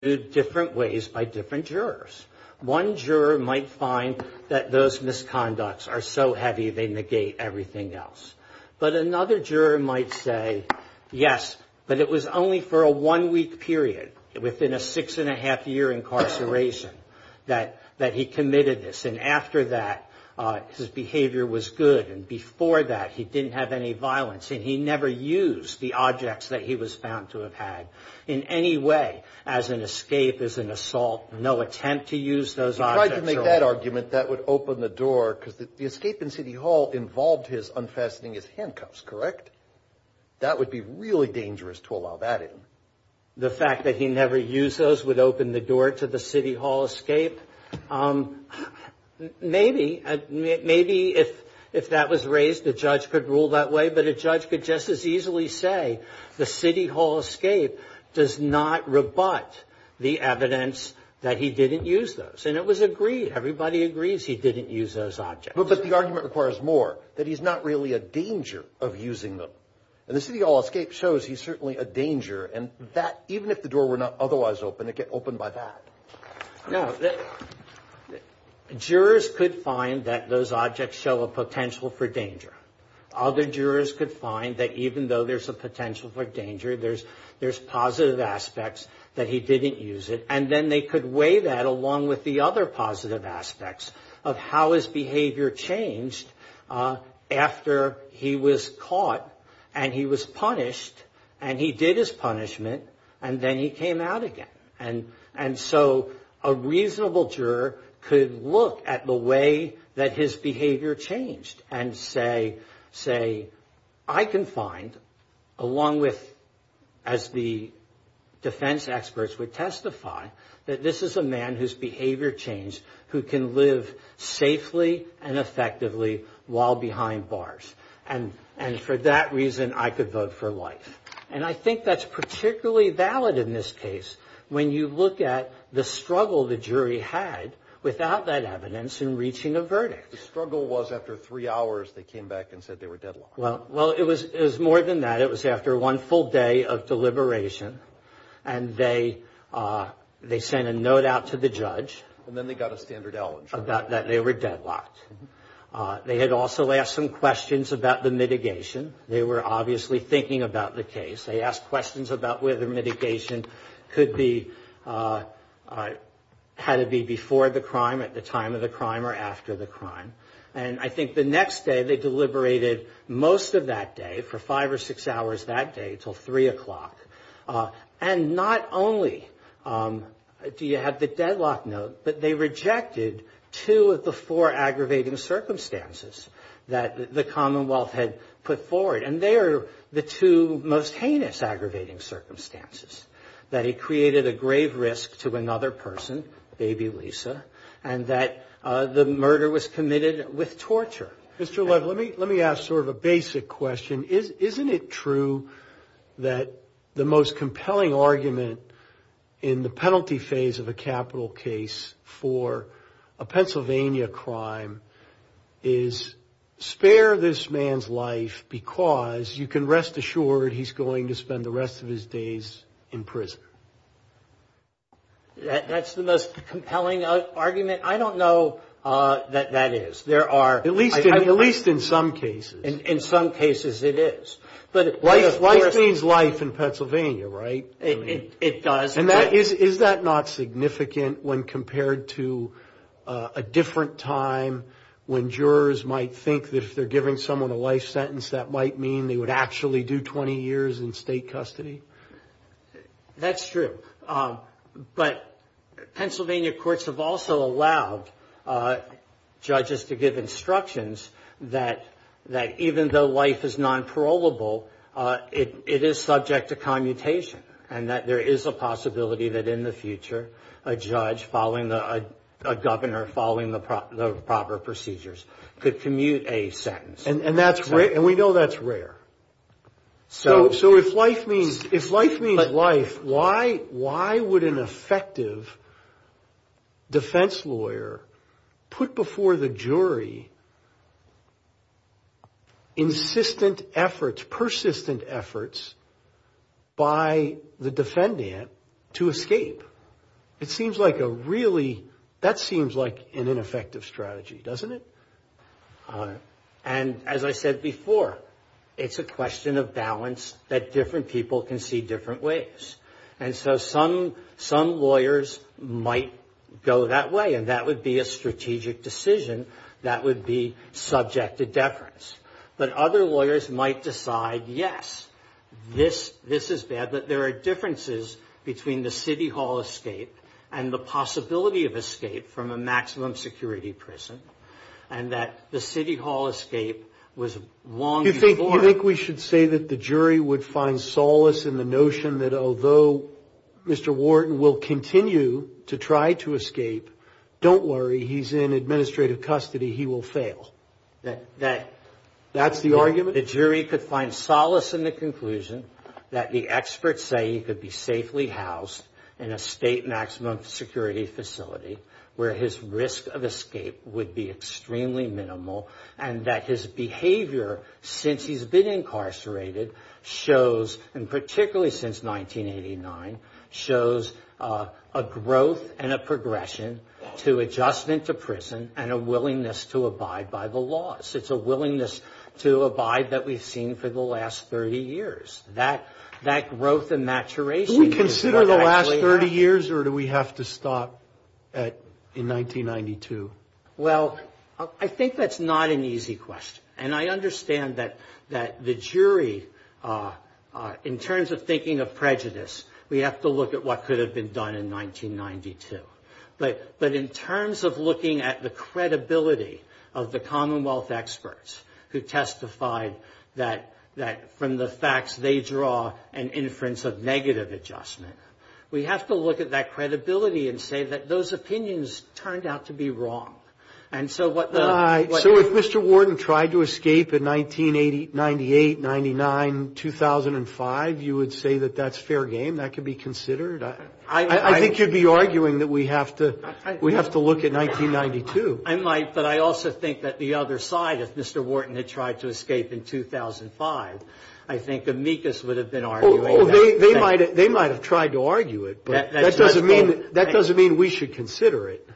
One juror might find that those misconducts are so heavy they negate everything else, but another juror might say, yes, but it was only for a one-week period within a six-and-a-half-year incarceration that he committed this, and after that, his behavior was good, and before that, he didn't have any violence, and he never used the objects that he was found to have had in any way as an assassin. Escape is an assault, no attempt to use those objects at all. If I could make that argument, that would open the door, because the escape in City Hall involved his unfastening his handcuffs, correct? That would be really dangerous to allow that in. The fact that he never used those would open the door to the City Hall escape? Maybe. Maybe if that was raised, the judge could rule that way, but a judge could just as easily say the City Hall escape does not rebut the evidence that he didn't use those, and it was agreed. Everybody agrees he didn't use those objects. But the argument requires more, that he's not really a danger of using them, and the City Hall escape shows he's certainly a danger, and that, even if the door were not otherwise open, it'd get opened by that. Now, jurors could find that those objects show a potential for danger. Other jurors could find that even though there's a potential for danger, there's positive aspects that he didn't use it, and then they could weigh that along with the other positive aspects of how his behavior changed after he was caught, and he was punished, and he did his punishment, and then he came out again. And so, a reasonable juror could look at the way that his behavior changed and say, I can find, along with, as the defense experts would testify, that this is a man whose behavior changed who can live safely and effectively while behind bars, and for that reason, I could vote for life. And I think that's particularly valid in this case when you look at the struggle the jury had without that evidence in reaching a verdict. The struggle was after three hours, they came back and said they were deadlocked. Well, it was more than that. It was after one full day of deliberation, and they sent a note out to the judge. And then they got a standard outline. About that they were deadlocked. They had also asked some questions about the mitigation. They were obviously thinking about the case. They asked questions about whether mitigation could be, had it be before the crime, at the time of the crime, or after the crime. And I think the next day they deliberated most of that day, for five or six hours that day, until 3 o'clock. And not only do you have the deadlock note, but they rejected two of the four aggravating circumstances that the Commonwealth had put forward. And they are the two most heinous aggravating circumstances, that he created a grave risk to another person, baby Lisa, and that the murder was committed with torture. Mr. Love, let me ask sort of a basic question. Isn't it true that the most compelling argument in the penalty phase of a capital case for a Pennsylvania crime is, spare this man's life because you can rest assured he's going to spend the rest of his days in prison? That's the most compelling argument? I don't know that that is. At least in some cases. In some cases it is. Life means life in Pennsylvania, right? It does. And is that not significant when compared to a different time when jurors might think that if they're giving someone a life sentence, that might mean they would actually do 20 years in state custody? That's true. But Pennsylvania courts have also allowed judges to give instructions that even though life is non-parolable, it is subject to commutation. And that there is a possibility that in the future, a judge following, a governor following the proper procedures could commute a sentence. And we know that's rare. So if life means life, why would an effective defense lawyer put before the jury insistent efforts, persistent efforts by the defendant to escape? It seems like a really, that seems like an ineffective strategy, doesn't it? And as I said before, it's a question of balance that different people can see different ways. And so some lawyers might go that way, and that would be a strategic decision that would be subject to deference. But other lawyers might decide, yes, this is bad, but there are differences between the city hall escape and the possibility of escape from a maximum security prison. And that the city hall escape was long before. You think we should say that the jury would find solace in the notion that although Mr. Wharton will continue to try to escape, don't worry, he's in administrative custody, he will fail? That's the argument? The jury could find solace in the conclusion that the experts say he could be safely housed in a state maximum security facility where his risk of escape would be extremely minimal. And that his behavior since he's been incarcerated shows, and particularly since 1989, shows a growth and a progression to adjustment to prison and a willingness to abide by the laws. It's a willingness to abide that we've seen for the last 30 years. That growth and maturation is what actually happens. Do we consider the last 30 years, or do we have to stop in 1992? Well, I think that's not an easy question. And I understand that the jury, in terms of thinking of prejudice, we have to look at what could have been done in 1992. But in terms of looking at the credibility of the Commonwealth experts who testified that from the facts they draw an inference of negative adjustment, we have to look at that credibility and say that those opinions turned out to be wrong. And so what the... So if Mr. Wharton tried to escape in 1998, 99, 2005, you would say that that's fair game? That could be considered? I think you'd be arguing that we have to look at 1992. I might, but I also think that the other side, if Mr. Wharton had tried to escape in 2005, I think amicus would have been arguing that. They might have tried to argue it, but that doesn't mean we should consider it,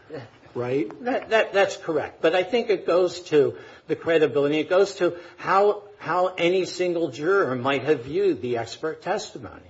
right? That's correct. But I think it goes to the credibility. It goes to how any single juror might have viewed the expert testimony.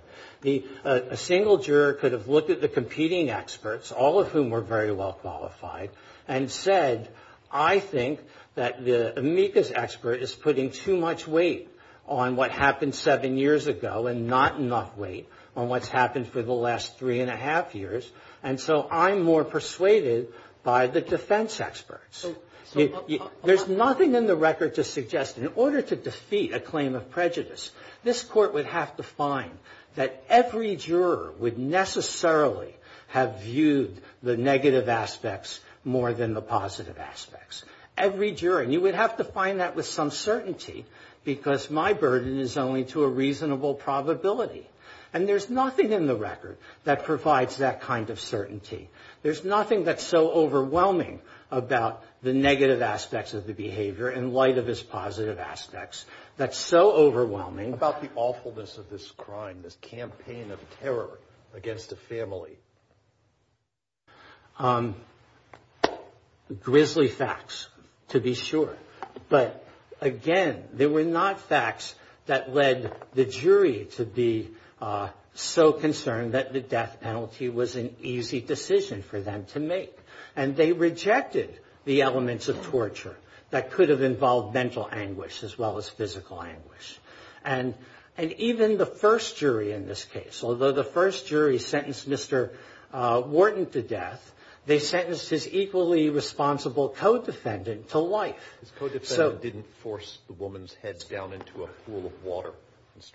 A single juror could have looked at the competing experts, all of whom were very well qualified, and said, I think that the amicus expert is putting too much weight on what happened seven years ago and not enough weight on what's happened for the last three and a half years. And so I'm more persuaded by the defense experts. There's nothing in the record to suggest, in order to defeat a claim of prejudice, this court would have to find that every juror would necessarily have viewed the negative aspects more than the positive aspects. Every juror. And you would have to find that with some certainty, because my burden is only to a reasonable probability. And there's nothing in the record that provides that kind of certainty. There's nothing that's so overwhelming about the negative aspects of the behavior, in light of his positive aspects, that's so overwhelming. What about the awfulness of this crime, this campaign of terror against a family? Grizzly facts, to be sure. But, again, they were not facts that led the jury to be so concerned that the death penalty was an easy decision for them to make. And they rejected the elements of torture that could have involved mental anguish as well as physical anguish. And even the first jury in this case, although the first jury sentenced Mr. Wharton to death, they sentenced his equally responsible co-defendant to life. His co-defendant didn't force the woman's head down into a pool of water.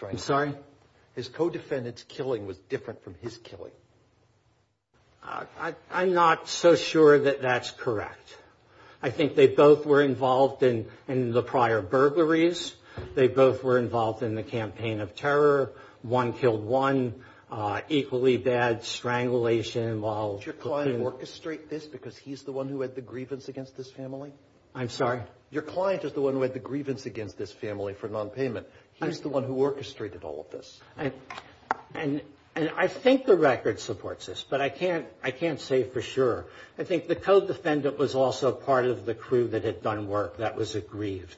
I'm sorry? His co-defendant's killing was different from his killing. I'm not so sure that that's correct. I think they both were involved in the prior burglaries. They both were involved in the campaign of terror. One killed one. Equally bad strangulation involved. Did your client orchestrate this because he's the one who had the grievance against this family? I'm sorry? Your client is the one who had the grievance against this family for nonpayment. He's the one who orchestrated all of this. And I think the record supports this, but I can't say for sure. I think the co-defendant was also part of the crew that had done work that was aggrieved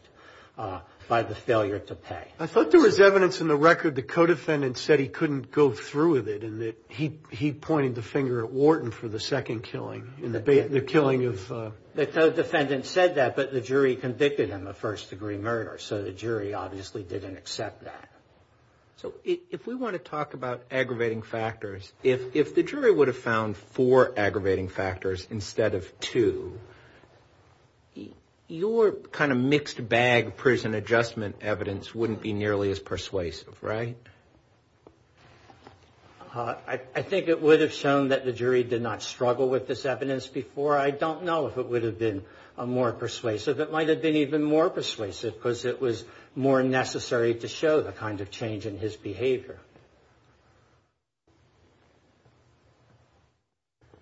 by the failure to pay. I thought there was evidence in the record the co-defendant said he couldn't go through with it and that he pointed the finger at Wharton for the second killing, the killing of – The co-defendant said that, but the jury convicted him of first-degree murder. So the jury obviously didn't accept that. So if we want to talk about aggravating factors, if the jury would have found four aggravating factors instead of two, your kind of mixed bag prison adjustment evidence wouldn't be nearly as persuasive, right? I think it would have shown that the jury did not struggle with this evidence before. I don't know if it would have been more persuasive. It might have been even more persuasive because it was more necessary to show the kind of change in his behavior.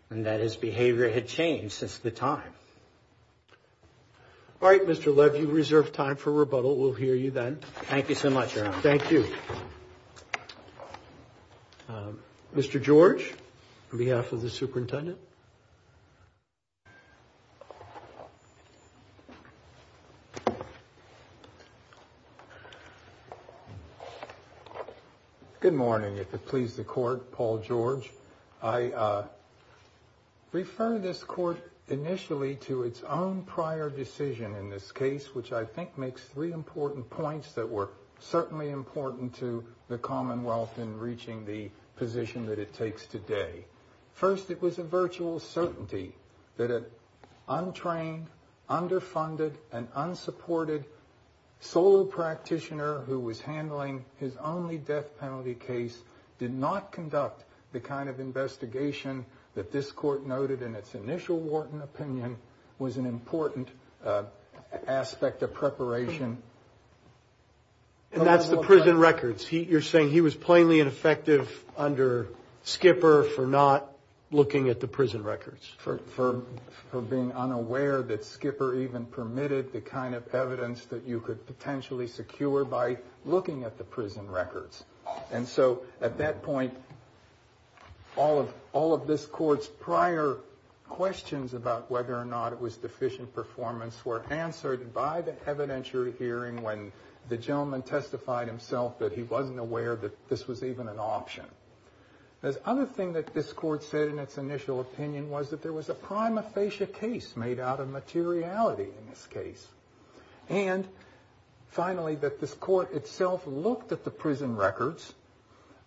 And that his behavior had changed since the time. All right, Mr. Levy, we reserve time for rebuttal. We'll hear you then. Thank you so much, Your Honor. Thank you. Mr. George, on behalf of the superintendent. Thank you. Good morning, if it pleases the Court. Paul George. I refer this Court initially to its own prior decision in this case, which I think makes three important points that were certainly important to the Commonwealth in reaching the position that it takes today. First, it was a virtual certainty that an untrained, underfunded, and unsupported solo practitioner who was handling his only death penalty case did not conduct the kind of investigation that this Court noted in its initial Wharton opinion was an important aspect of preparation. And that's the prison records. You're saying he was plainly ineffective under Skipper for not looking at the prison records. For being unaware that Skipper even permitted the kind of evidence that you could potentially secure by looking at the prison records. And so at that point, all of this Court's prior questions about whether or not it was deficient performance were answered by the evidentiary hearing when the gentleman testified himself that he wasn't aware that this was even an option. The other thing that this Court said in its initial opinion was that there was a prima facie case made out of materiality in this case. And finally, that this Court itself looked at the prison records,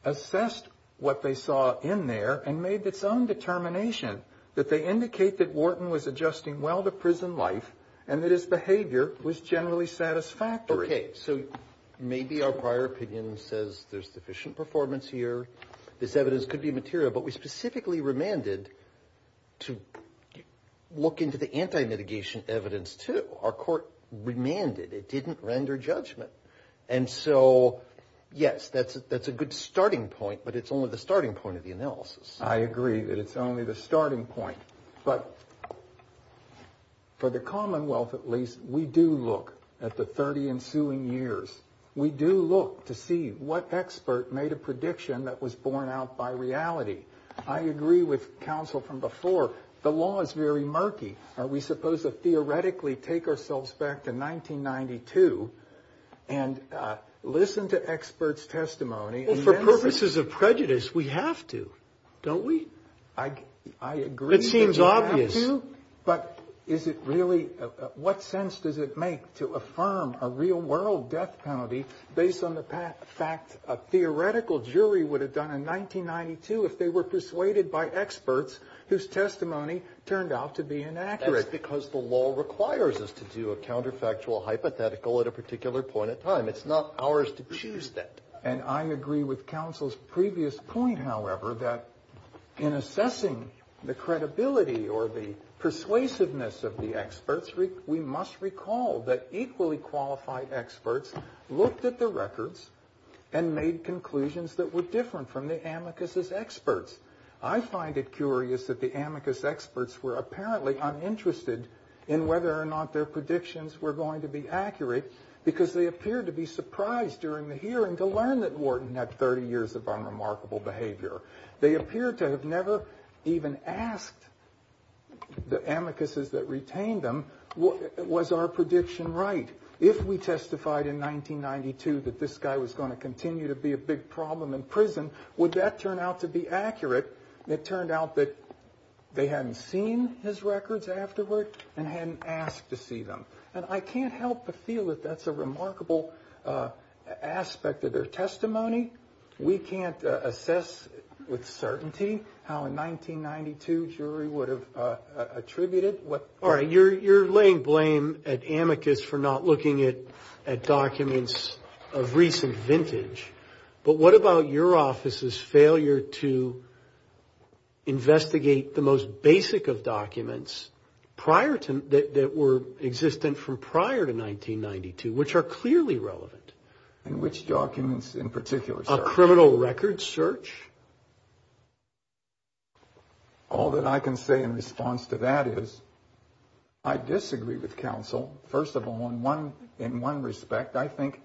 assessed what they saw in there, and made its own determination that they indicate that Wharton was adjusting well to prison life and that his behavior was generally satisfactory. Okay, so maybe our prior opinion says there's sufficient performance here. This evidence could be material, but we specifically remanded to look into the anti-mitigation evidence, too. Our Court remanded. It didn't render judgment. And so, yes, that's a good starting point, but it's only the starting point of the analysis. I agree that it's only the starting point. But for the Commonwealth, at least, we do look at the 30 ensuing years. We do look to see what expert made a prediction that was borne out by reality. I agree with counsel from before. The law is very murky. Are we supposed to theoretically take ourselves back to 1992 and listen to experts' testimony? For purposes of prejudice, we have to, don't we? I agree that we have to. It seems obvious. But is it really? What sense does it make to affirm a real-world death penalty based on the fact a theoretical jury would have done in 1992 if they were persuaded by experts whose testimony turned out to be inaccurate? That's because the law requires us to do a counterfactual hypothetical at a particular point in time. It's not ours to choose that. And I agree with counsel's previous point, however, that in assessing the credibility or the persuasiveness of the experts, we must recall that equally qualified experts looked at the records and made conclusions that were different from the amicus' experts. I find it curious that the amicus' experts were apparently uninterested in whether or not their predictions were going to be accurate because they appeared to be surprised during the hearing to learn that Wharton had 30 years of unremarkable behavior. They appeared to have never even asked the amicus' that retained them, was our prediction right? If we testified in 1992 that this guy was going to continue to be a big problem in prison, would that turn out to be accurate? It turned out that they hadn't seen his records afterward and hadn't asked to see them. And I can't help but feel that that's a remarkable aspect of their testimony. We can't assess with certainty how a 1992 jury would have attributed what... All right, you're laying blame at amicus for not looking at documents of recent vintage. But what about your office's failure to investigate the most basic of documents that were existent from prior to 1992, which are clearly relevant? And which documents in particular, sir? A criminal record search? All that I can say in response to that is I disagree with counsel. First of all, in one respect, I think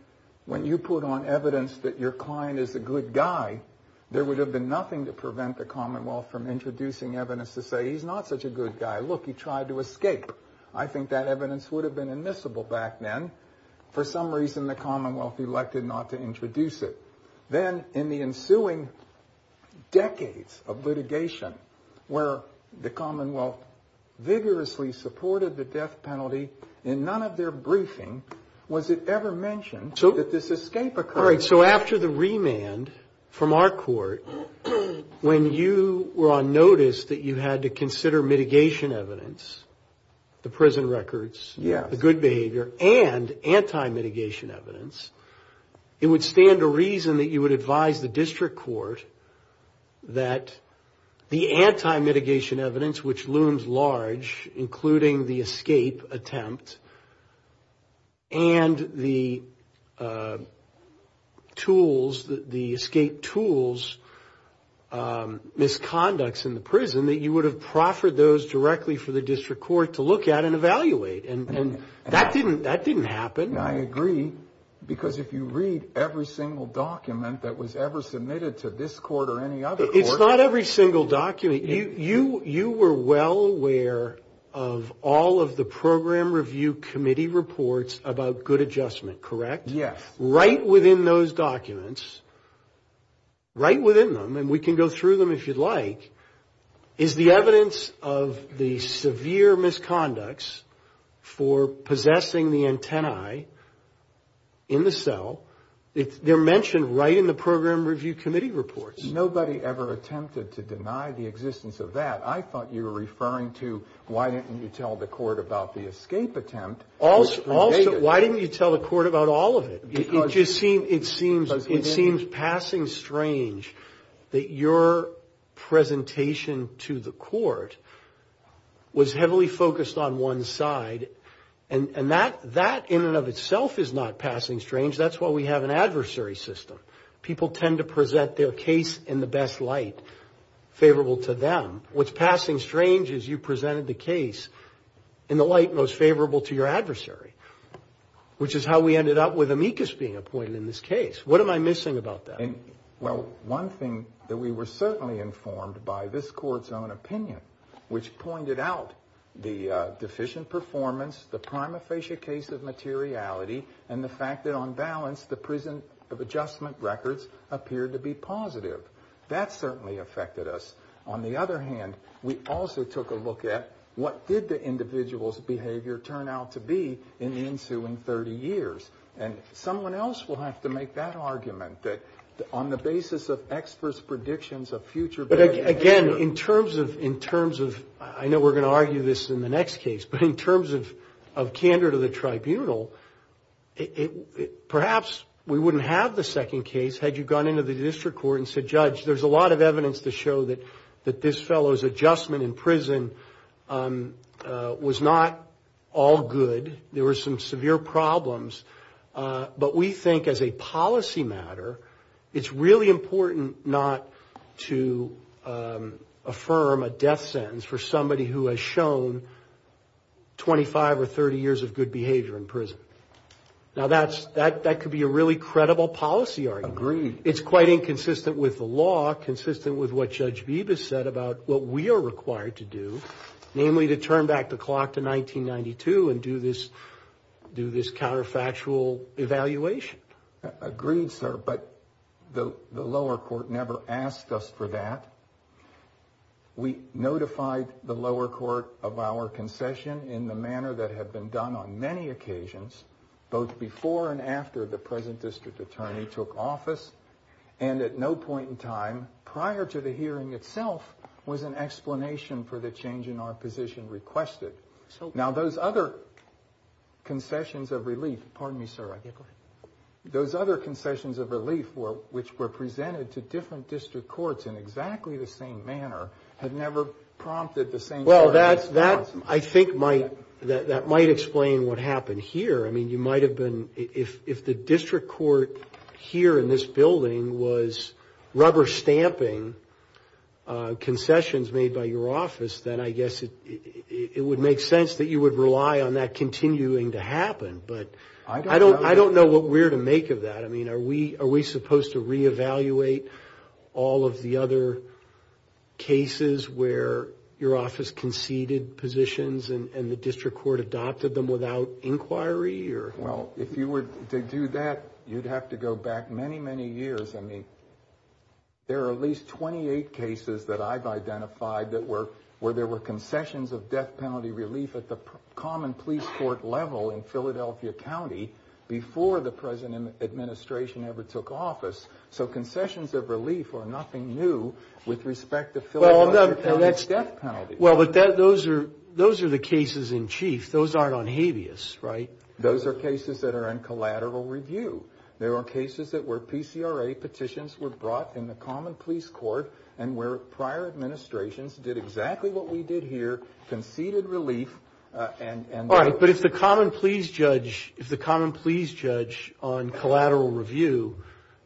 when you put on evidence that your client is a good guy, there would have been nothing to prevent the Commonwealth from introducing evidence to say he's not such a good guy. Look, he tried to escape. I think that evidence would have been admissible back then. For some reason, the Commonwealth elected not to introduce it. Then in the ensuing decades of litigation where the Commonwealth vigorously supported the death penalty in none of their briefing, was it ever mentioned that this escape occurred? All right, so after the remand from our court, when you were on notice that you had to consider mitigation evidence, the prison records, the good behavior, and anti-mitigation evidence, it would stand to reason that you would advise the district court that the anti-mitigation evidence, which looms large, including the escape attempt, and the escape tools, misconducts in the prison, that you would have proffered those directly for the district court to look at and evaluate. And that didn't happen. I agree, because if you read every single document that was ever submitted to this court or any other court. It's not every single document. You were well aware of all of the Program Review Committee reports about good adjustment, correct? Yes. Right within those documents, right within them, and we can go through them if you'd like, is the evidence of the severe misconducts for possessing the antennae in the cell. They're mentioned right in the Program Review Committee reports. Nobody ever attempted to deny the existence of that. I thought you were referring to why didn't you tell the court about the escape attempt. Also, why didn't you tell the court about all of it? It just seems passing strange that your presentation to the court was heavily focused on one side, and that in and of itself is not passing strange. That's why we have an adversary system. People tend to present their case in the best light, favorable to them. What's passing strange is you presented the case in the light most favorable to your adversary, which is how we ended up with amicus being appointed in this case. What am I missing about that? Well, one thing that we were certainly informed by this court's own opinion, which pointed out the deficient performance, the prima facie case of materiality, and the fact that on balance the prison adjustment records appeared to be positive. That certainly affected us. On the other hand, we also took a look at what did the individual's behavior turn out to be in the ensuing 30 years. And someone else will have to make that argument that on the basis of experts' predictions of future behavior. But again, in terms of, I know we're going to argue this in the next case, but in terms of candor to the tribunal, perhaps we wouldn't have the second case had you gone into the district court and said, Judge, there's a lot of evidence to show that this fellow's adjustment in prison was not all good. There were some severe problems. But we think as a policy matter, it's really important not to affirm a death sentence for somebody who has shown 25 or 30 years of good behavior in prison. Now, that could be a really credible policy argument. It's quite inconsistent with the law, consistent with what Judge Bibas said about what we are required to do, namely to turn back the clock to 1992 and do this counterfactual evaluation. Agreed, sir, but the lower court never asked us for that. We notified the lower court of our concession in the manner that had been done on many occasions, both before and after the present district attorney took office, and at no point in time prior to the hearing itself was an explanation for the change in our position requested. Now, those other concessions of relief, pardon me, sir. Yeah, go ahead. Those other concessions of relief, which were presented to different district courts in exactly the same manner, had never prompted the same sort of response. Well, I think that might explain what happened here. I mean, you might have been, if the district court here in this building was rubber stamping concessions made by your office, then I guess it would make sense that you would rely on that continuing to happen, but I don't know what we're to make of that. I mean, are we supposed to reevaluate all of the other cases where your office conceded positions and the district court adopted them without inquiry? Well, if you were to do that, you'd have to go back many, many years. I mean, there are at least 28 cases that I've identified where there were concessions of death penalty relief at the common police court level in Philadelphia County before the present administration ever took office. So concessions of relief are nothing new with respect to Philadelphia County's death penalty. Well, but those are the cases in chief. Those aren't on habeas, right? Those are cases that are in collateral review. There are cases where PCRA petitions were brought in the common police court and where prior administrations did exactly what we did here, conceded relief. All right, but if the common police judge on collateral review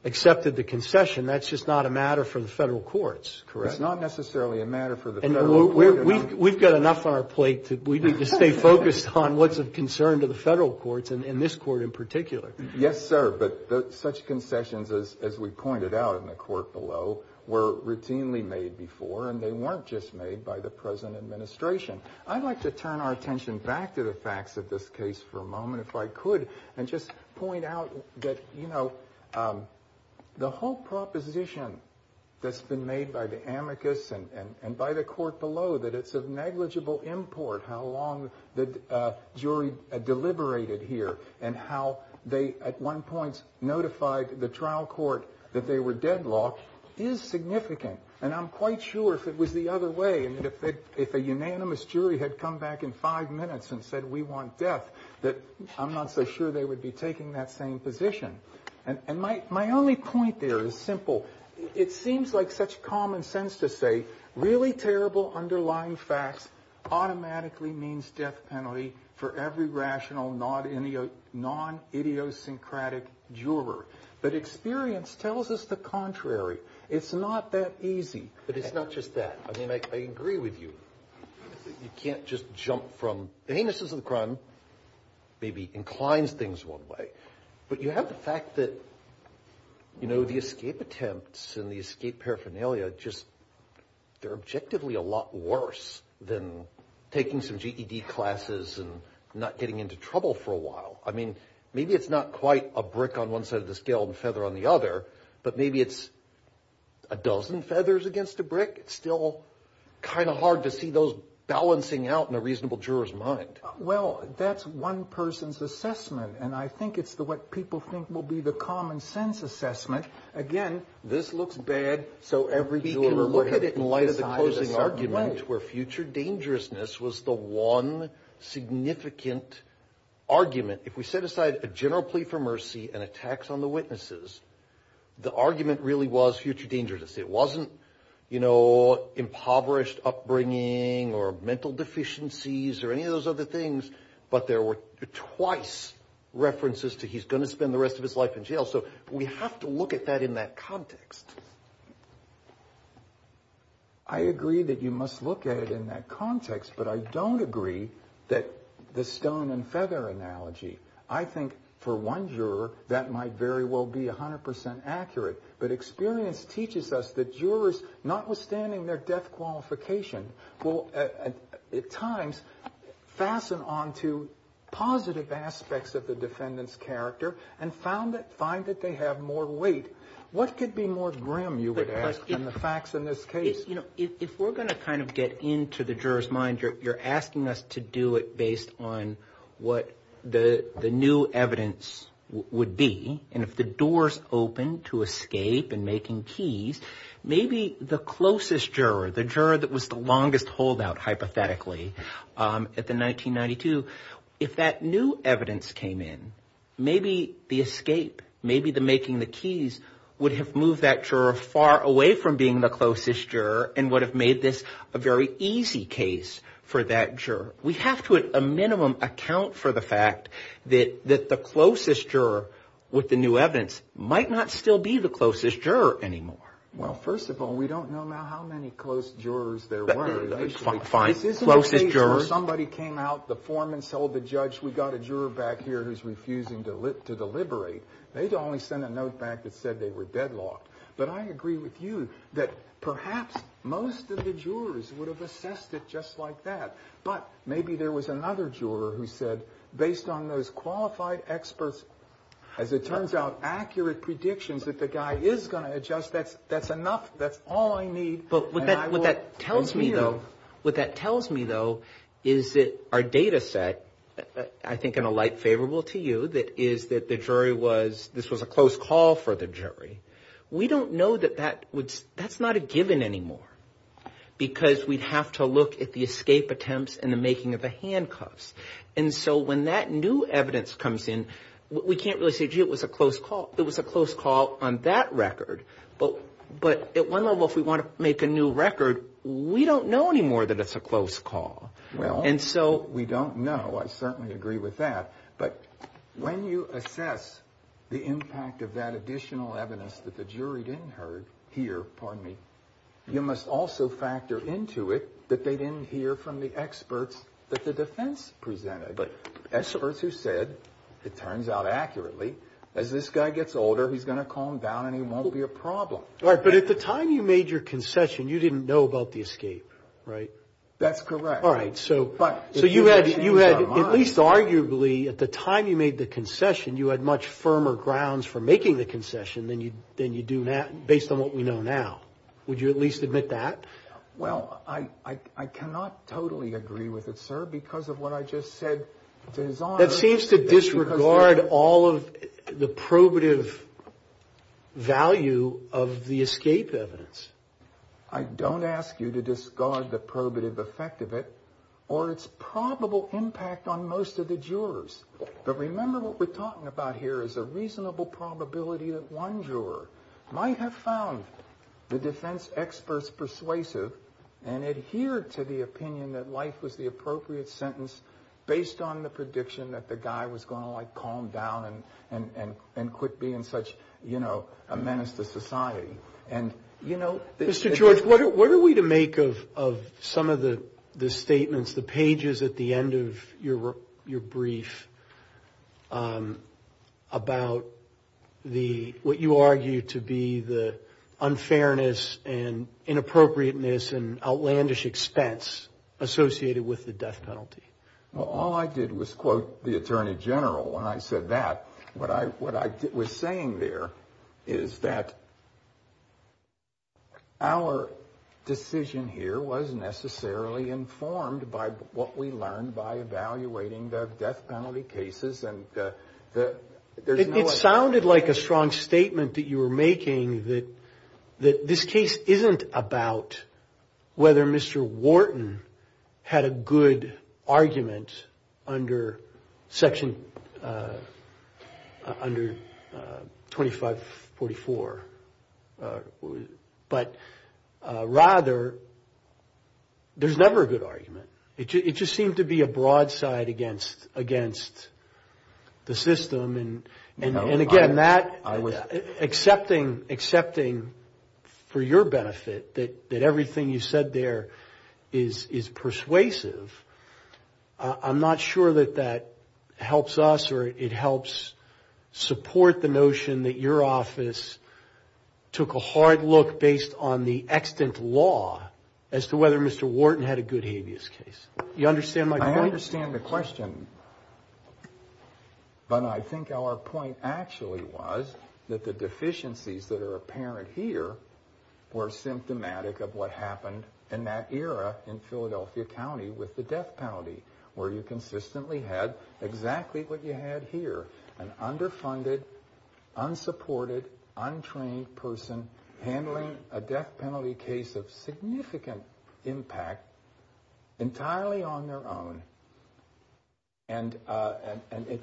accepted the concession, that's just not a matter for the federal courts, correct? It's not necessarily a matter for the federal courts. We've got enough on our plate. We need to stay focused on what's of concern to the federal courts and this court in particular. Yes, sir. But such concessions, as we pointed out in the court below, were routinely made before, and they weren't just made by the present administration. I'd like to turn our attention back to the facts of this case for a moment, if I could, and just point out that, you know, the whole proposition that's been made by the amicus and by the court below, that it's of negligible import how long the jury deliberated here and how they at one point notified the trial court that they were deadlocked, is significant. And I'm quite sure if it was the other way, if a unanimous jury had come back in five minutes and said, we want death, that I'm not so sure they would be taking that same position. And my only point there is simple. It seems like such common sense to say really terrible underlying facts automatically means death penalty for every rational, non-idiosyncratic juror. But experience tells us the contrary. It's not that easy. But it's not just that. I mean, I agree with you. You can't just jump from the anuses of the crown, maybe incline things one way. But you have the fact that, you know, the escape attempts and the escape paraphernalia, just they're objectively a lot worse than taking some GED classes and not getting into trouble for a while. I mean, maybe it's not quite a brick on one side of the scale and feather on the other, but maybe it's a dozen feathers against a brick. It's still kind of hard to see those balancing out in a reasonable juror's mind. Well, that's one person's assessment. And I think it's what people think will be the common sense assessment. Again, this looks bad, so every juror will have to decide a certain way. We can look at it in light of the closing argument where future dangerousness was the one significant argument. If we set aside a general plea for mercy and a tax on the witnesses, the argument really was future dangerousness. It wasn't, you know, impoverished upbringing or mental deficiencies or any of those other things. But there were twice references to he's going to spend the rest of his life in jail. So we have to look at that in that context. I agree that you must look at it in that context, but I don't agree that the stone and feather analogy. I think for one juror that might very well be 100% accurate. But experience teaches us that jurors, notwithstanding their death qualification, will at times fasten onto positive aspects of the defendant's character and find that they have more weight. What could be more grim, you would ask, than the facts in this case? If we're going to kind of get into the juror's mind, you're asking us to do it based on what the new evidence would be. And if the doors open to escape and making keys, maybe the closest juror, the juror that was the longest holdout, hypothetically, at the 1992, if that new evidence came in, maybe the escape, maybe the making the keys would have moved that juror far away from being the closest juror and would have made this a very easy case for that juror. We have to at a minimum account for the fact that the closest juror with the new evidence might not still be the closest juror anymore. Well, first of all, we don't know now how many close jurors there were. This isn't a case where somebody came out, the foreman sold the judge, we've got a juror back here who's refusing to deliberate. They'd only send a note back that said they were deadlocked. But I agree with you that perhaps most of the jurors would have assessed it just like that. But maybe there was another juror who said, based on those qualified experts, as it turns out, accurate predictions that the guy is going to adjust, that's enough, that's all I need. But what that tells me, though, what that tells me, though, is that our data set, I think in a light favorable to you, that is that the jury was, this was a close call for the jury. We don't know that that's not a given anymore. Because we'd have to look at the escape attempts and the making of the handcuffs. And so when that new evidence comes in, we can't really say, gee, it was a close call. It was a close call on that record. But at one level, if we want to make a new record, we don't know anymore that it's a close call. Well, we don't know. I certainly agree with that. But when you assess the impact of that additional evidence that the jury didn't hear, you must also factor into it that they didn't hear from the experts that the defense presented. Experts who said, it turns out accurately, as this guy gets older, he's going to calm down and he won't be a problem. But at the time you made your concession, you didn't know about the escape, right? That's correct. So you had, at least arguably, at the time you made the concession, you had much firmer grounds for making the concession than you do now, based on what we know now. Would you at least admit that? Well, I cannot totally agree with it, sir, because of what I just said. That seems to disregard all of the probative value of the escape evidence. I don't ask you to discard the probative effect of it or its probable impact on most of the jurors. But remember what we're talking about here is a reasonable probability that one juror might have found the defense experts persuasive and adhered to the opinion that life was the appropriate sentence based on the prediction that the guy was going to calm down and quit being such a menace to society. Mr. George, what are we to make of some of the statements, the pages at the end of your brief about what you argue to be the unfairness and inappropriateness and outlandish expense associated with the death penalty? Well, all I did was quote the Attorney General when I said that. What I was saying there is that our decision here was necessarily informed by what we learned by evaluating the death penalty cases. It sounded like a strong statement that you were making that this case isn't about whether Mr. Wharton had a good argument under Section 2544, but rather there's never a good argument. It just seemed to be a broadside against the system. And again, accepting for your benefit that everything you said there is persuasive, I'm not sure that that helps us or it helps support the notion that your office took a hard look based on the extant law as to whether Mr. Wharton had a good habeas case. You understand my point? I understand the question. But I think our point actually was that the deficiencies that are apparent here were symptomatic of what happened in that era in Philadelphia County with the death penalty, where you consistently had exactly what you had here, an underfunded, unsupported, untrained person handling a death penalty case of significant impact entirely on their own. And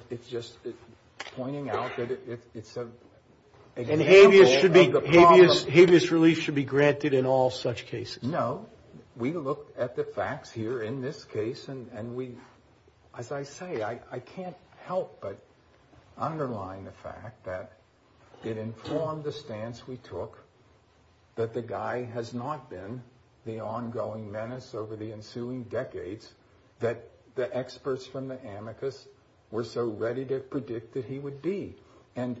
it's just pointing out that it's an example of the problem. And habeas relief should be granted in all such cases? No. We looked at the facts here in this case, and we, as I say, I can't help but underline the fact that it informed the stance we took that the guy has not been the ongoing menace over the ensuing decades that the experts from the amicus were so ready to predict that he would be. And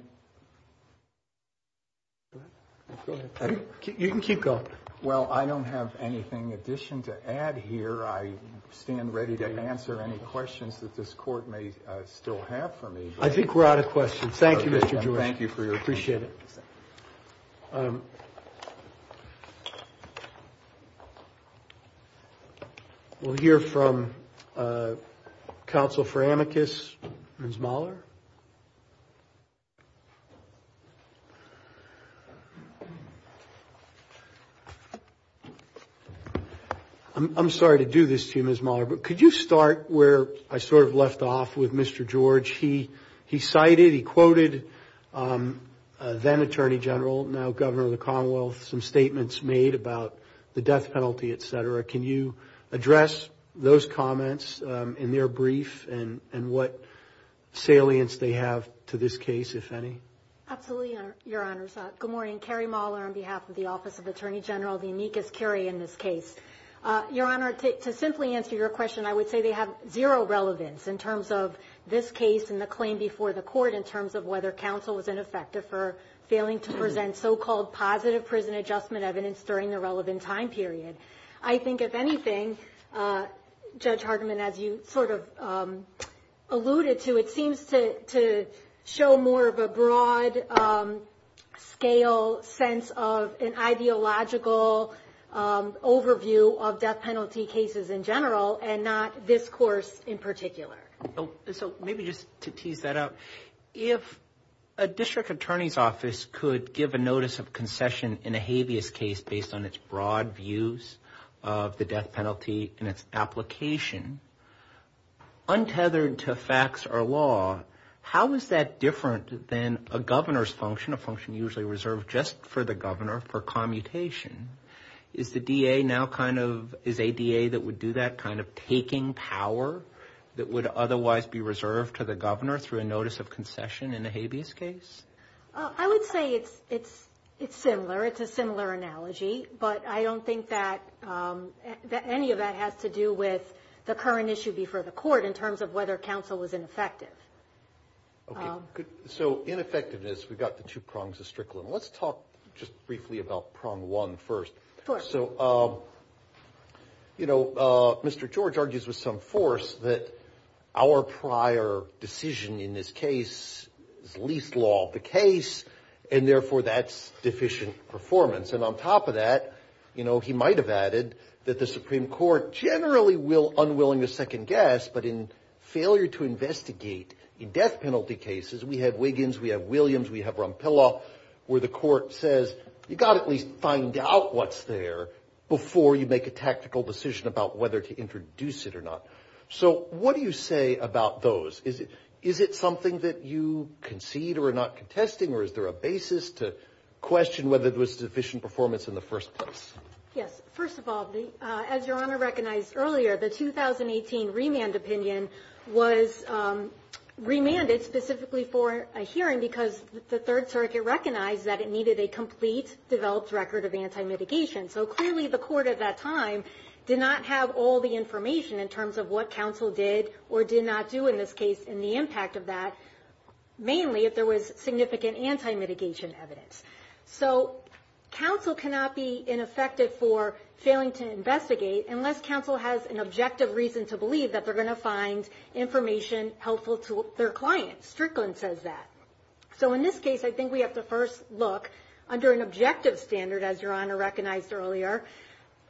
you can keep going. Well, I don't have anything in addition to add here. I stand ready to answer any questions that this court may still have for me. I think we're out of questions. Thank you, Mr. George. We'll hear from counsel for amicus, Ms. Mahler. I'm sorry to do this to you, Ms. Mahler, but could you start where I sort of left off with Mr. George? He cited, he quoted then Attorney General, now Governor of the Commonwealth, some statements made about the death penalty, et cetera. Can you address those comments in their brief and what salience they have to this case, if any? Absolutely, Your Honors. Good morning. I'm Carrie Mahler on behalf of the Office of Attorney General, the amicus curia in this case. Your Honor, to simply answer your question, I would say they have zero relevance in terms of this case and the claim before the court in terms of whether counsel was ineffective for failing to present so-called positive prison adjustment evidence during the relevant time period. I think, if anything, Judge Hardiman, as you sort of alluded to, it seems to show more of a broad scale of evidence. It's more of a broad scale sense of an ideological overview of death penalty cases in general and not this course in particular. So maybe just to tease that out, if a district attorney's office could give a notice of concession in a habeas case based on its broad views of the death penalty and its application, untethered to facts or law, how is that different than a governor's function, a function usually reserved just to the public? Is the DA now kind of, is a DA that would do that kind of taking power that would otherwise be reserved to the governor through a notice of concession in a habeas case? I would say it's similar, it's a similar analogy, but I don't think that any of that has to do with the current issue before the court in terms of whether counsel was ineffective. So ineffectiveness, we've got the two prongs of Strickland. Let's talk just briefly about prong one first. So, you know, Mr. George argues with some force that our prior decision in this case is least law of the case, and therefore that's deficient performance. And on top of that, you know, he might have added that the Supreme Court generally will unwilling to second-guess, but in failure to investigate, it will not be willing to second-guess. In death penalty cases, we have Wiggins, we have Williams, we have Rompillo, where the court says, you've got to at least find out what's there before you make a tactical decision about whether to introduce it or not. So what do you say about those? Is it something that you concede or are not contesting, or is there a basis to question whether it was deficient performance in the first place? Yes, first of all, as Your Honor recognized earlier, the 2018 remand opinion was remanded specifically for a hearing because the Third Circuit recognized that it needed a complete developed record of anti-mitigation. So clearly the court at that time did not have all the information in terms of what counsel did or did not do in this case and the impact of that, mainly if there was significant anti-mitigation evidence. So counsel cannot be ineffective for failing to investigate unless counsel has an objective reason to believe that they're going to find information helpful to their clients. Strickland says that. So in this case, I think we have to first look under an objective standard, as Your Honor recognized earlier,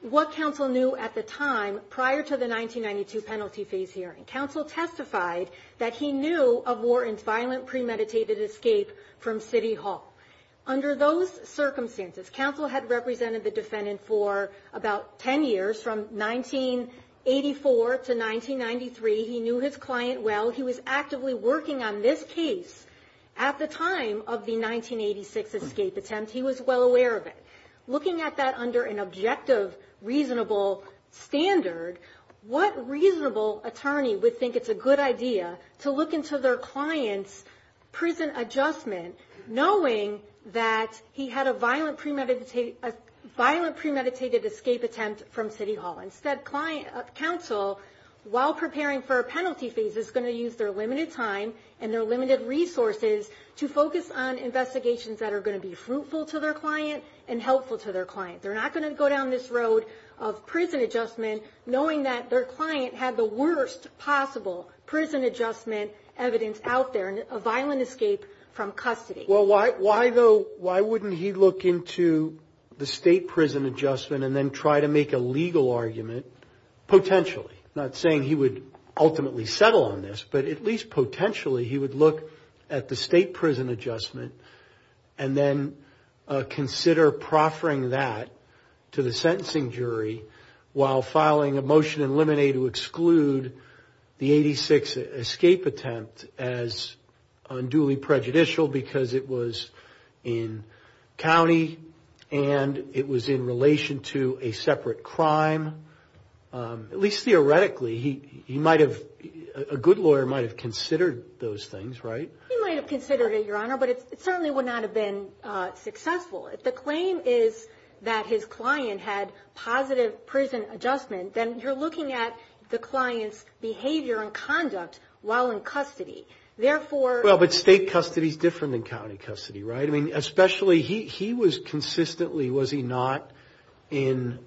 what counsel knew at the time prior to the 1992 penalty phase hearing. Counsel testified that he knew of Wharton's violent premeditated escape from City Hall. Under those circumstances, counsel had represented the defendant for about 10 years from 1984 to 1993. He knew his client well, he was actively working on this case at the time of the 1986 escape attempt, he was well aware of it. Looking at that under an objective, reasonable standard, what reasonable attorney would think it's a good idea to look into their client's prison adjustment knowing that he had a violent premeditated escape attempt from City Hall. Instead, counsel, while preparing for a penalty phase, is going to use their limited time and their limited resources to focus on investigations that are going to be fruitful to their client and helpful to their client. They're not going to go down this road of prison adjustment knowing that their client had the worst possible prison adjustment evidence out there, a violent escape from custody. Well, why, though, why wouldn't he look into the state prison adjustment and then try to make a legal argument, potentially? Not saying he would ultimately settle on this, but at least potentially he would look at the state prison adjustment and then consider proffering that to the sentencing jury while filing a motion in limine to exclude the 86 escape attempt as unduly prejudicial because it's a felony. Because it was in county and it was in relation to a separate crime. At least theoretically, he might have, a good lawyer might have considered those things, right? He might have considered it, Your Honor, but it certainly would not have been successful. If the claim is that his client had positive prison adjustment, then you're looking at the client's behavior and conduct while in custody. Therefore... Well, but state custody is different than county custody, right? I mean, especially he was consistently, was he not, in,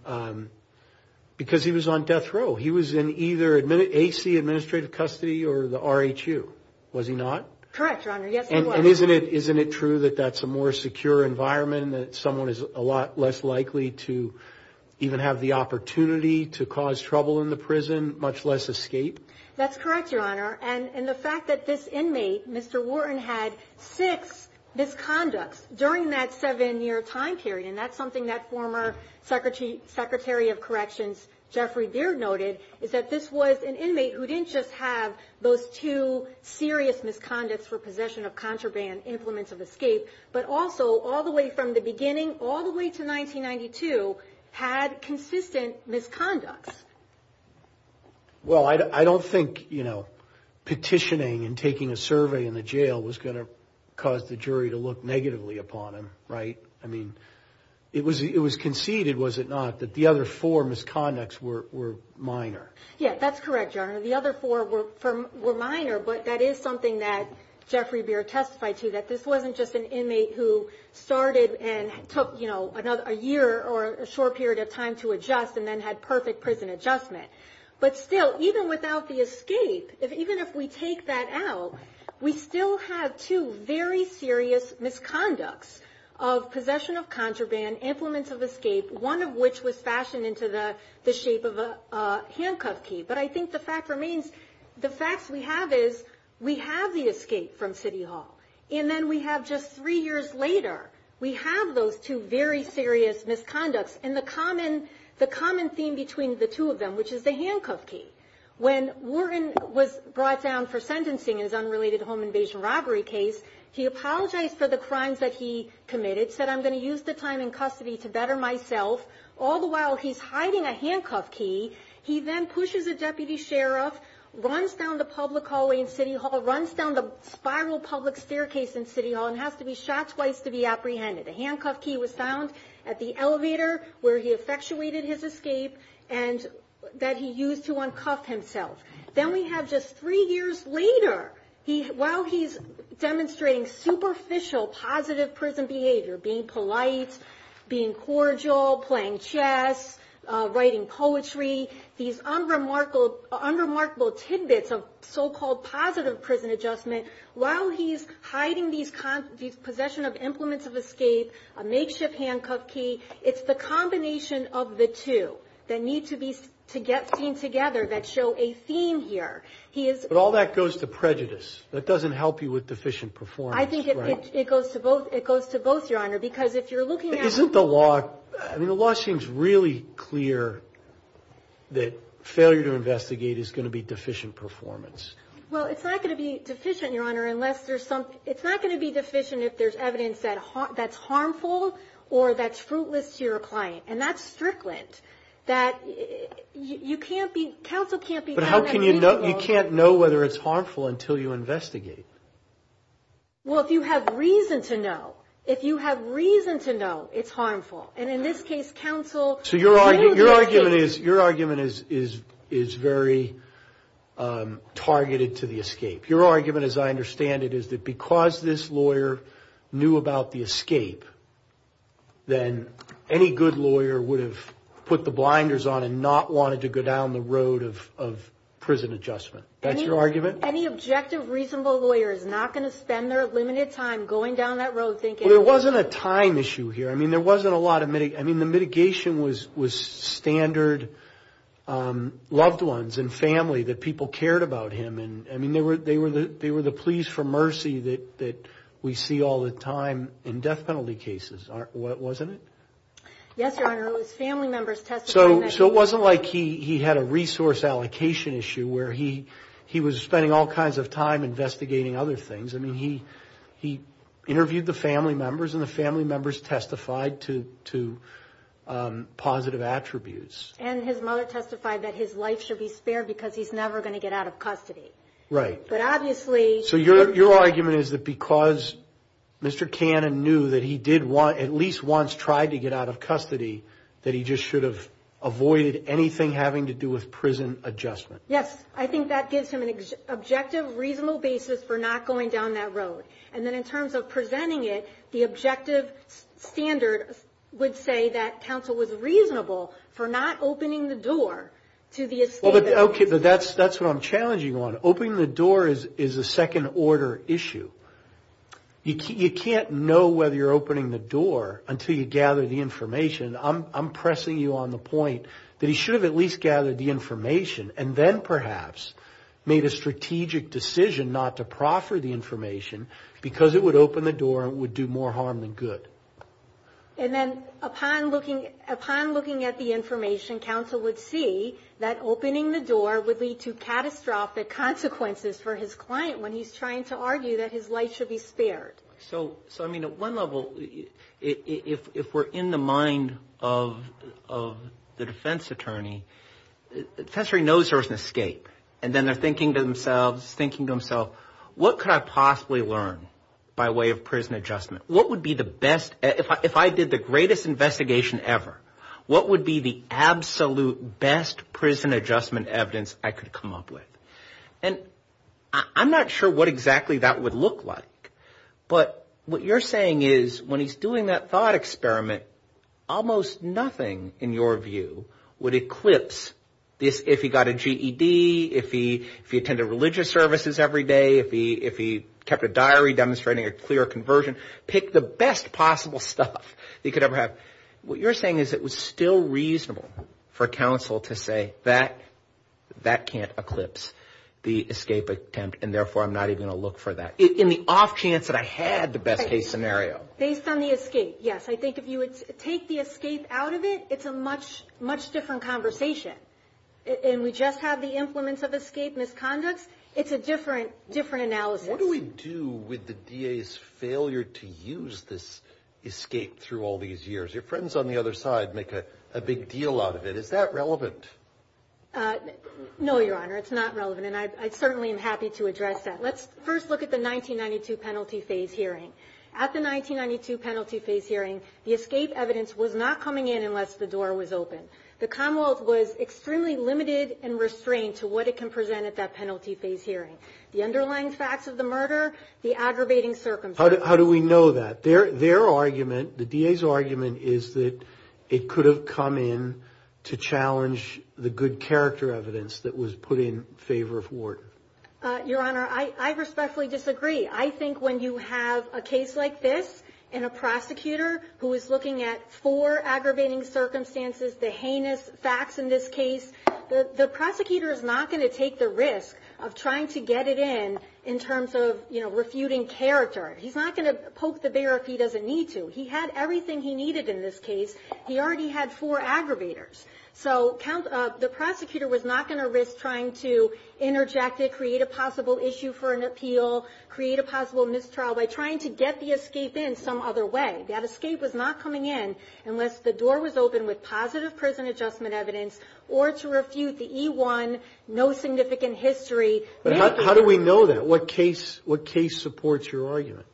because he was on death row. He was in either AC administrative custody or the RHU, was he not? Correct, Your Honor, yes he was. And isn't it true that that's a more secure environment and that someone is a lot less likely to even have the opportunity to cause trouble in the prison, much less escape? That's correct, Your Honor, and the fact that this inmate, Mr. Wharton, had six misconducts during that seven year time period, and that's something that former Secretary of Corrections, Jeffrey Beard, noted, is that this was an inmate who didn't just have those two serious misconducts for possession of contraband, implements of escape, but also all the way from the beginning, all the way to 1992, had consistent misconducts. Well, I don't think, you know, petitioning and taking a survey in the jail was going to cause the jury to look negatively upon him, right? I mean, it was conceded, was it not, that the other four misconducts were minor? Yeah, that's correct, Your Honor, the other four were minor, but that is something that Jeffrey Beard testified to, that this wasn't just an inmate who started and took, you know, a year or a short period of time to adjust and then had perfect prison adjustment. But still, even without the escape, even if we take that out, we still have two very serious misconducts of possession of contraband, implements of escape, one of which was fashioned into the shape of a handcuff key. But I think the fact remains, the facts we have is, we have the escape from City Hall, and then we have just three years later, we have those two very serious misconducts. And the common theme between the two of them, which is the handcuff key, when Warren was brought down for sentencing in his unrelated home invasion robbery case, he apologized for the crimes that he committed, said, I'm going to use the time in custody to better myself, all the while he's hiding a handcuff key. He then pushes a deputy sheriff, runs down the public hallway in City Hall, runs down the spiral public staircase in City Hall, and has to be shot twice to be apprehended. The handcuff key was found at the elevator, where he effectuated his escape, and that he used to uncuff himself. Then we have just three years later, while he's demonstrating superficial positive prison behavior, being polite, being cordial, playing chess, writing poetry, these unremarkable tidbits of so-called positive prison adjustment, while he's hiding these possession of implements of escape, he's using the handcuff key. A makeshift handcuff key, it's the combination of the two that need to be seen together that show a theme here. He is... But all that goes to prejudice, that doesn't help you with deficient performance. I think it goes to both, Your Honor, because if you're looking at... Isn't the law, the law seems really clear that failure to investigate is going to be deficient performance. It's either harmful or that's fruitless to your client, and that's strickland, that you can't be, counsel can't be... But how can you know, you can't know whether it's harmful until you investigate? Well, if you have reason to know, if you have reason to know it's harmful, and in this case, counsel... So your argument is, your argument is very targeted to the escape. Your argument, as I understand it, is that because this lawyer knew about the escape, then any good lawyer would have put the blinders on and not wanted to go down the road of prison adjustment. That's your argument? Well, there wasn't a time issue here, I mean, there wasn't a lot of... I mean, the mitigation was standard, loved ones and family, that people cared about him, and they were the pleas for mercy that we see all the time in death penalty cases, wasn't it? Yes, Your Honor, it was family members testifying... So it wasn't like he had a resource allocation issue where he was spending all kinds of time investigating other things. I mean, he interviewed the family members, and the family members testified to positive attributes. And his mother testified that his life should be spared because he's never going to get out of custody. So your argument is that because Mr. Cannon knew that he at least once tried to get out of custody, that he just should have avoided anything having to do with prison adjustment. Yes, I think that gives him an objective, reasonable basis for not going down that road. And then in terms of presenting it, the objective standard would say that counsel was reasonable for not opening the door to the escape. Okay, but that's what I'm challenging on. Opening the door is a second-order issue. You can't know whether you're opening the door until you gather the information. I'm pressing you on the point that he should have at least gathered the information, and then perhaps made a strategic decision not to proffer the information, because it would open the door and would do more harm than good. And then upon looking at the information, counsel would see that opening the door would lead to catastrophic consequences for his client when he's trying to argue that his life should be spared. So, I mean, at one level, if we're in the mind of the defense attorney, the attorney knows there's an escape. And then they're thinking to themselves, thinking to themselves, what could I possibly learn by way of prison adjustment? What would be the best, if I did the greatest investigation ever, what would be the absolute best prison adjustment evidence I could come up with? And I'm not sure what exactly that would look like, but what you're saying is when he's doing that thought experiment, almost nothing, in your view, would eclipse this, if he got a GED, if he attended religious services every day, if he kept a diary demonstrating a clear conversion, pick the best possible stuff he could ever have. What you're saying is it was still reasonable for counsel to say that that can't eclipse the escape attempt, and therefore I'm not even going to look for that, in the off chance that I had the best case scenario. Based on the escape, yes, I think if you would take the escape out of it, it's a much different conversation. And we just have the implements of escape misconducts, it's a different analysis. What do we do with the DA's failure to use this escape through all these years? Your friends on the other side make a big deal out of it, is that relevant? No, Your Honor, it's not relevant, and I certainly am happy to address that. Let's first look at the 1992 penalty phase hearing. At the 1992 penalty phase hearing, the escape evidence was not coming in unless the door was open. The Commonwealth was extremely limited and restrained to what it can present at that penalty phase hearing. The underlying facts of the murder, the aggravating circumstances. How do we know that? Their argument, the DA's argument, is that it could have come in to challenge the good character evidence that was put in favor of Warden. Your Honor, I respectfully disagree. I think when you have a case like this, and a prosecutor who is looking at four aggravating circumstances, the heinous facts in this case, the prosecutor is not going to take the risk of trying to get it in, in terms of refuting character. He's not going to poke the bear if he doesn't need to. He had everything he needed in this case, he already had four aggravators. So the prosecutor was not going to risk trying to interject it, create a possible issue for an appeal, create a possible mistrial, by trying to get the escape in some other way. That escape was not coming in unless the door was open with positive prison adjustment evidence, or to refute the E1, no significant history. How do we know that? What case supports your argument?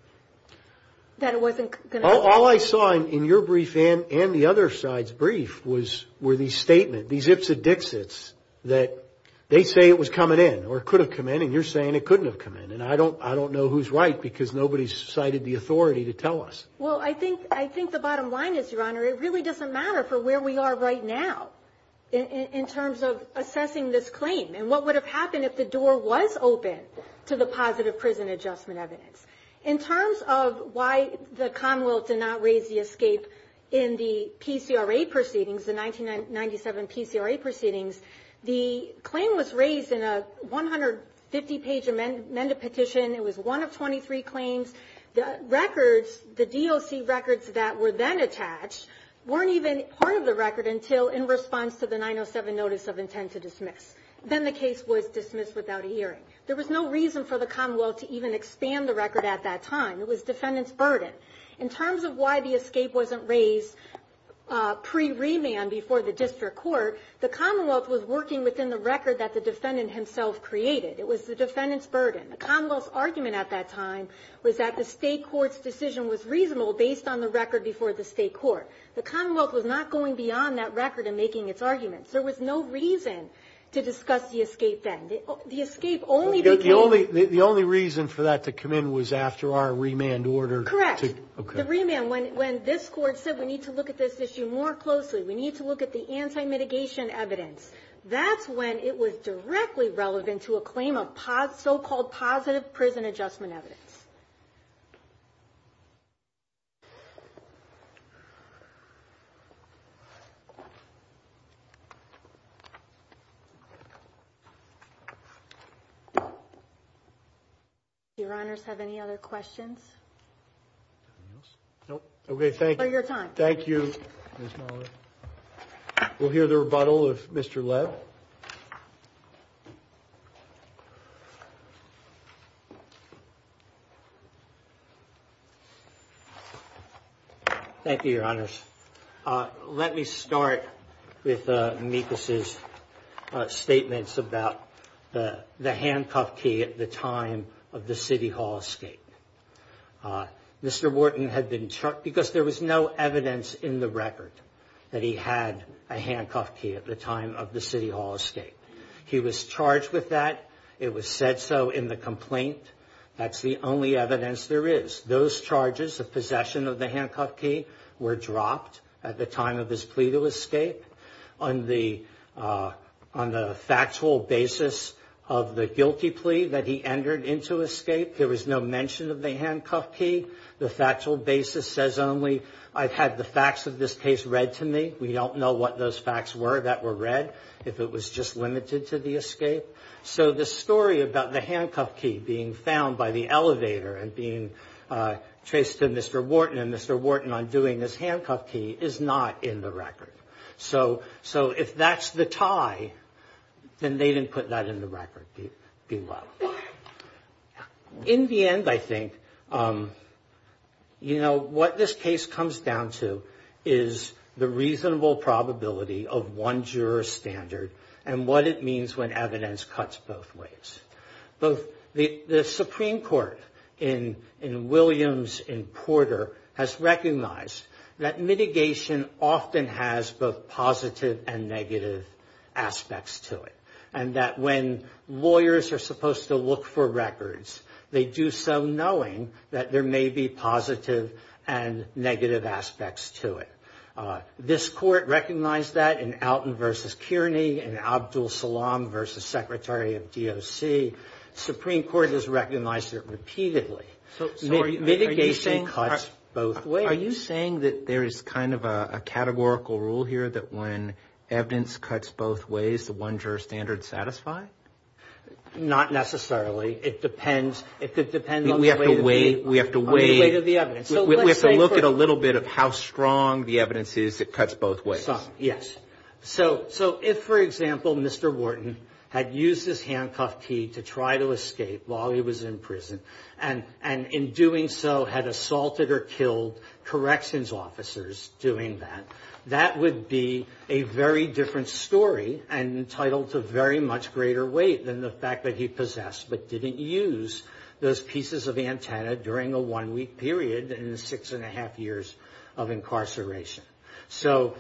All I saw in your brief and the other side's brief were these statements, these ips and dixits, that they say it was coming in, or it could have come in, and you're saying it couldn't have come in. And I don't know who's right, because nobody's cited the authority to tell us. Well, I think the bottom line is, Your Honor, it really doesn't matter for where we are right now, in terms of assessing this claim, and what would have happened if the door was open to the positive prison adjustment evidence. In terms of why the Commonwealth did not raise the escape in the PCRA proceedings, the 1997 PCRA proceedings, the claim was raised in a 150-page amended petition. It was one of 23 claims. The records, the DOC records that were then attached, weren't even part of the record until in response to the 907 Notice of Intent to Dismiss. Then the case was dismissed without a hearing. There was no reason for the Commonwealth to even expand the record at that time. It was defendant's burden. In terms of why the escape wasn't raised pre-remand before the district court, the Commonwealth was working within the record that the defendant himself created. It was the defendant's burden. The Commonwealth's argument at that time was that the state court's decision was reasonable based on the record before the state court. The Commonwealth was not going beyond that record in making its arguments. There was no reason to discuss the escape then. The only reason for that to come in was after our remand order? Correct. The remand, when this court said we need to look at this issue more closely, we need to look at the anti-mitigation evidence, that's when it was directly relevant to a claim of so-called positive prison adjustment evidence. Thank you. Your Honors, do you have any other questions? No. We'll hear the rebuttal of Mr. Lev. Thank you, Your Honors. Let me start with Mikas' statements about the handcuff key at the time of the City Hall escape. Mr. Wharton had been charged, because there was no evidence in the record that he had a handcuff key at the time of the City Hall escape, he was charged with that, it was said so in the complaint, that's the only evidence there is. Those charges of possession of the handcuff key were dropped at the time of his plea to escape. On the factual basis of the guilty plea that he entered into escape, there was no mention of the handcuff key. The factual basis says only, I've had the facts of this case read to me. We don't know what those facts were that were read, if it was just limited to the escape. So the story about the handcuff key being found by the elevator and being traced to Mr. Wharton and Mr. Wharton undoing his handcuff key is not in the record. So if that's the tie, then they didn't put that in the record, below. In the end, I think, you know, what this case comes down to is the reason why Mr. Wharton was charged. It's the reasonable probability of one juror's standard and what it means when evidence cuts both ways. The Supreme Court in Williams, in Porter, has recognized that mitigation often has both positive and negative aspects to it. And that when lawyers are supposed to look for records, they do so knowing that there may be positive and negative aspects to it. The Supreme Court recognized that in Alton v. Kearney and Abdul Salaam v. Secretary of DOC. The Supreme Court has recognized it repeatedly. Are you saying that there is kind of a categorical rule here that when evidence cuts both ways, the one juror's standard is satisfied? Not necessarily. It depends on the weight of the evidence. We have to look at a little bit of how strong the evidence is that cuts both ways. Yes. So if, for example, Mr. Wharton had used his handcuff key to try to escape while he was in prison, and in doing so had assaulted or killed corrections officers doing that, that would be a very different story and entitled to very much greater weight than the fact that he possessed, but didn't use those pieces of antenna during a one-week period. In six and a half years of incarceration. So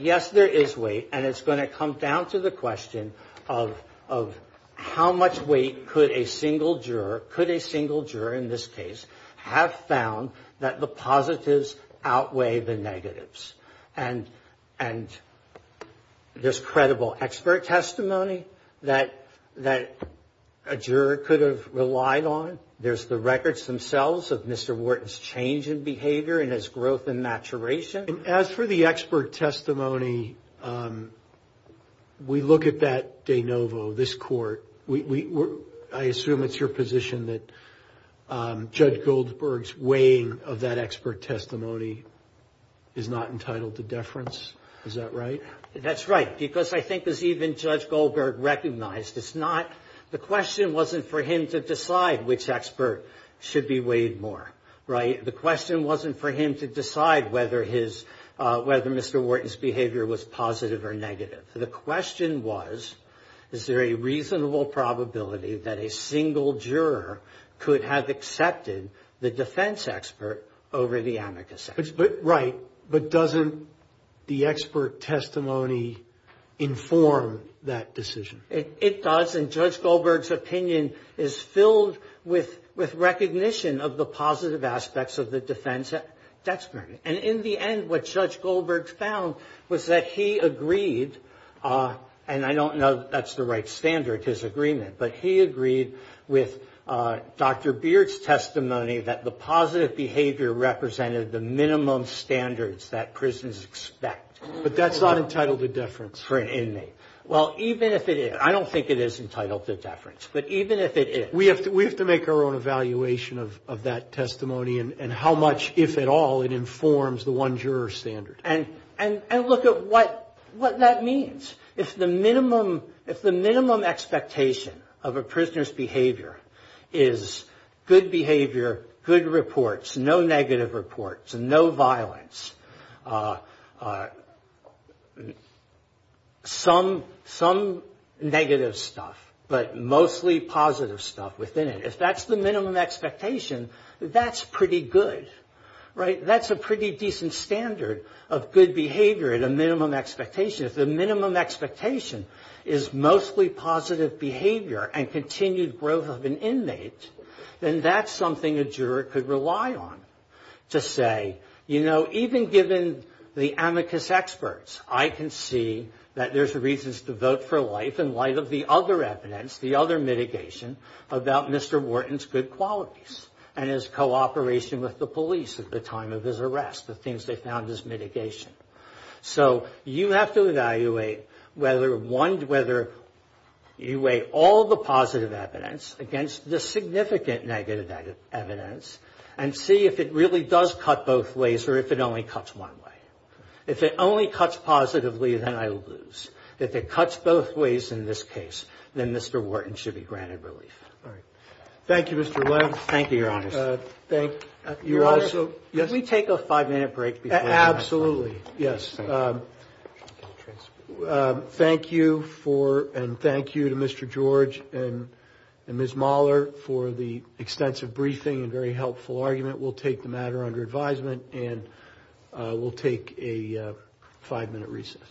yes, there is weight, and it's going to come down to the question of how much weight could a single juror, could a single juror in this case, have found that the positives outweigh the negatives? And there's credible expert testimony that a juror could have relied on. There's the records themselves of Mr. Wharton's change in behavior and his growth and maturation. And as for the expert testimony, we look at that de novo, this court. I assume it's your position that Judge Goldberg's weighing of that expert testimony is not entitled to deference. Is that right? That's right, because I think as even Judge Goldberg recognized, it's not, the question wasn't for him to decide which expert should be weighed more, right? The question wasn't for him to decide whether his, whether Mr. Wharton's behavior was positive or negative. The question was, is there a reasonable probability that a single juror could have accepted the defense expert over the amicus expert? Right, but doesn't the expert testimony inform that decision? It does, and Judge Goldberg's opinion is filled with recognition of the positive aspects of the defense expert. And in the end, what Judge Goldberg found was that he agreed, and I don't know that that's the right standard, his agreement. But he agreed with Dr. Beard's testimony that the positive behavior represented the minimum amount of weight that a single juror could have. And that's the minimum standards that prisoners expect. But that's not entitled to deference for an inmate. Well, even if it is, I don't think it is entitled to deference, but even if it is. We have to make our own evaluation of that testimony and how much, if at all, it informs the one juror standard. And look at what that means. If the minimum expectation of a prisoner's behavior is good behavior, good reports, no negative reports, no violence, some negative stuff, but mostly positive stuff within it, if that's the minimum expectation, that's pretty good. That's a pretty decent standard of good behavior at a minimum expectation. If the minimum expectation is mostly positive behavior and continued growth of an inmate, then that's something a juror could rely on. To say, you know, even given the amicus experts, I can see that there's reasons to vote for life in light of the other evidence, the other mitigation, about Mr. Wharton's good qualities and his cooperation with the police at the time of his arrest, the things they found as mitigation. So you have to evaluate whether one, whether you weigh all the positive evidence against the significant negative evidence and see if it really does cut both ways or if it only cuts one way. If it only cuts positively, then I lose. If it cuts both ways in this case, then Mr. Wharton should be granted relief. Thank you, Mr. Webb. Can we take a five minute break? Thank you for, and thank you to Mr. George and Ms. Mahler for the extensive briefing and very helpful argument. We'll take the matter under advisement and we'll take a five minute recess.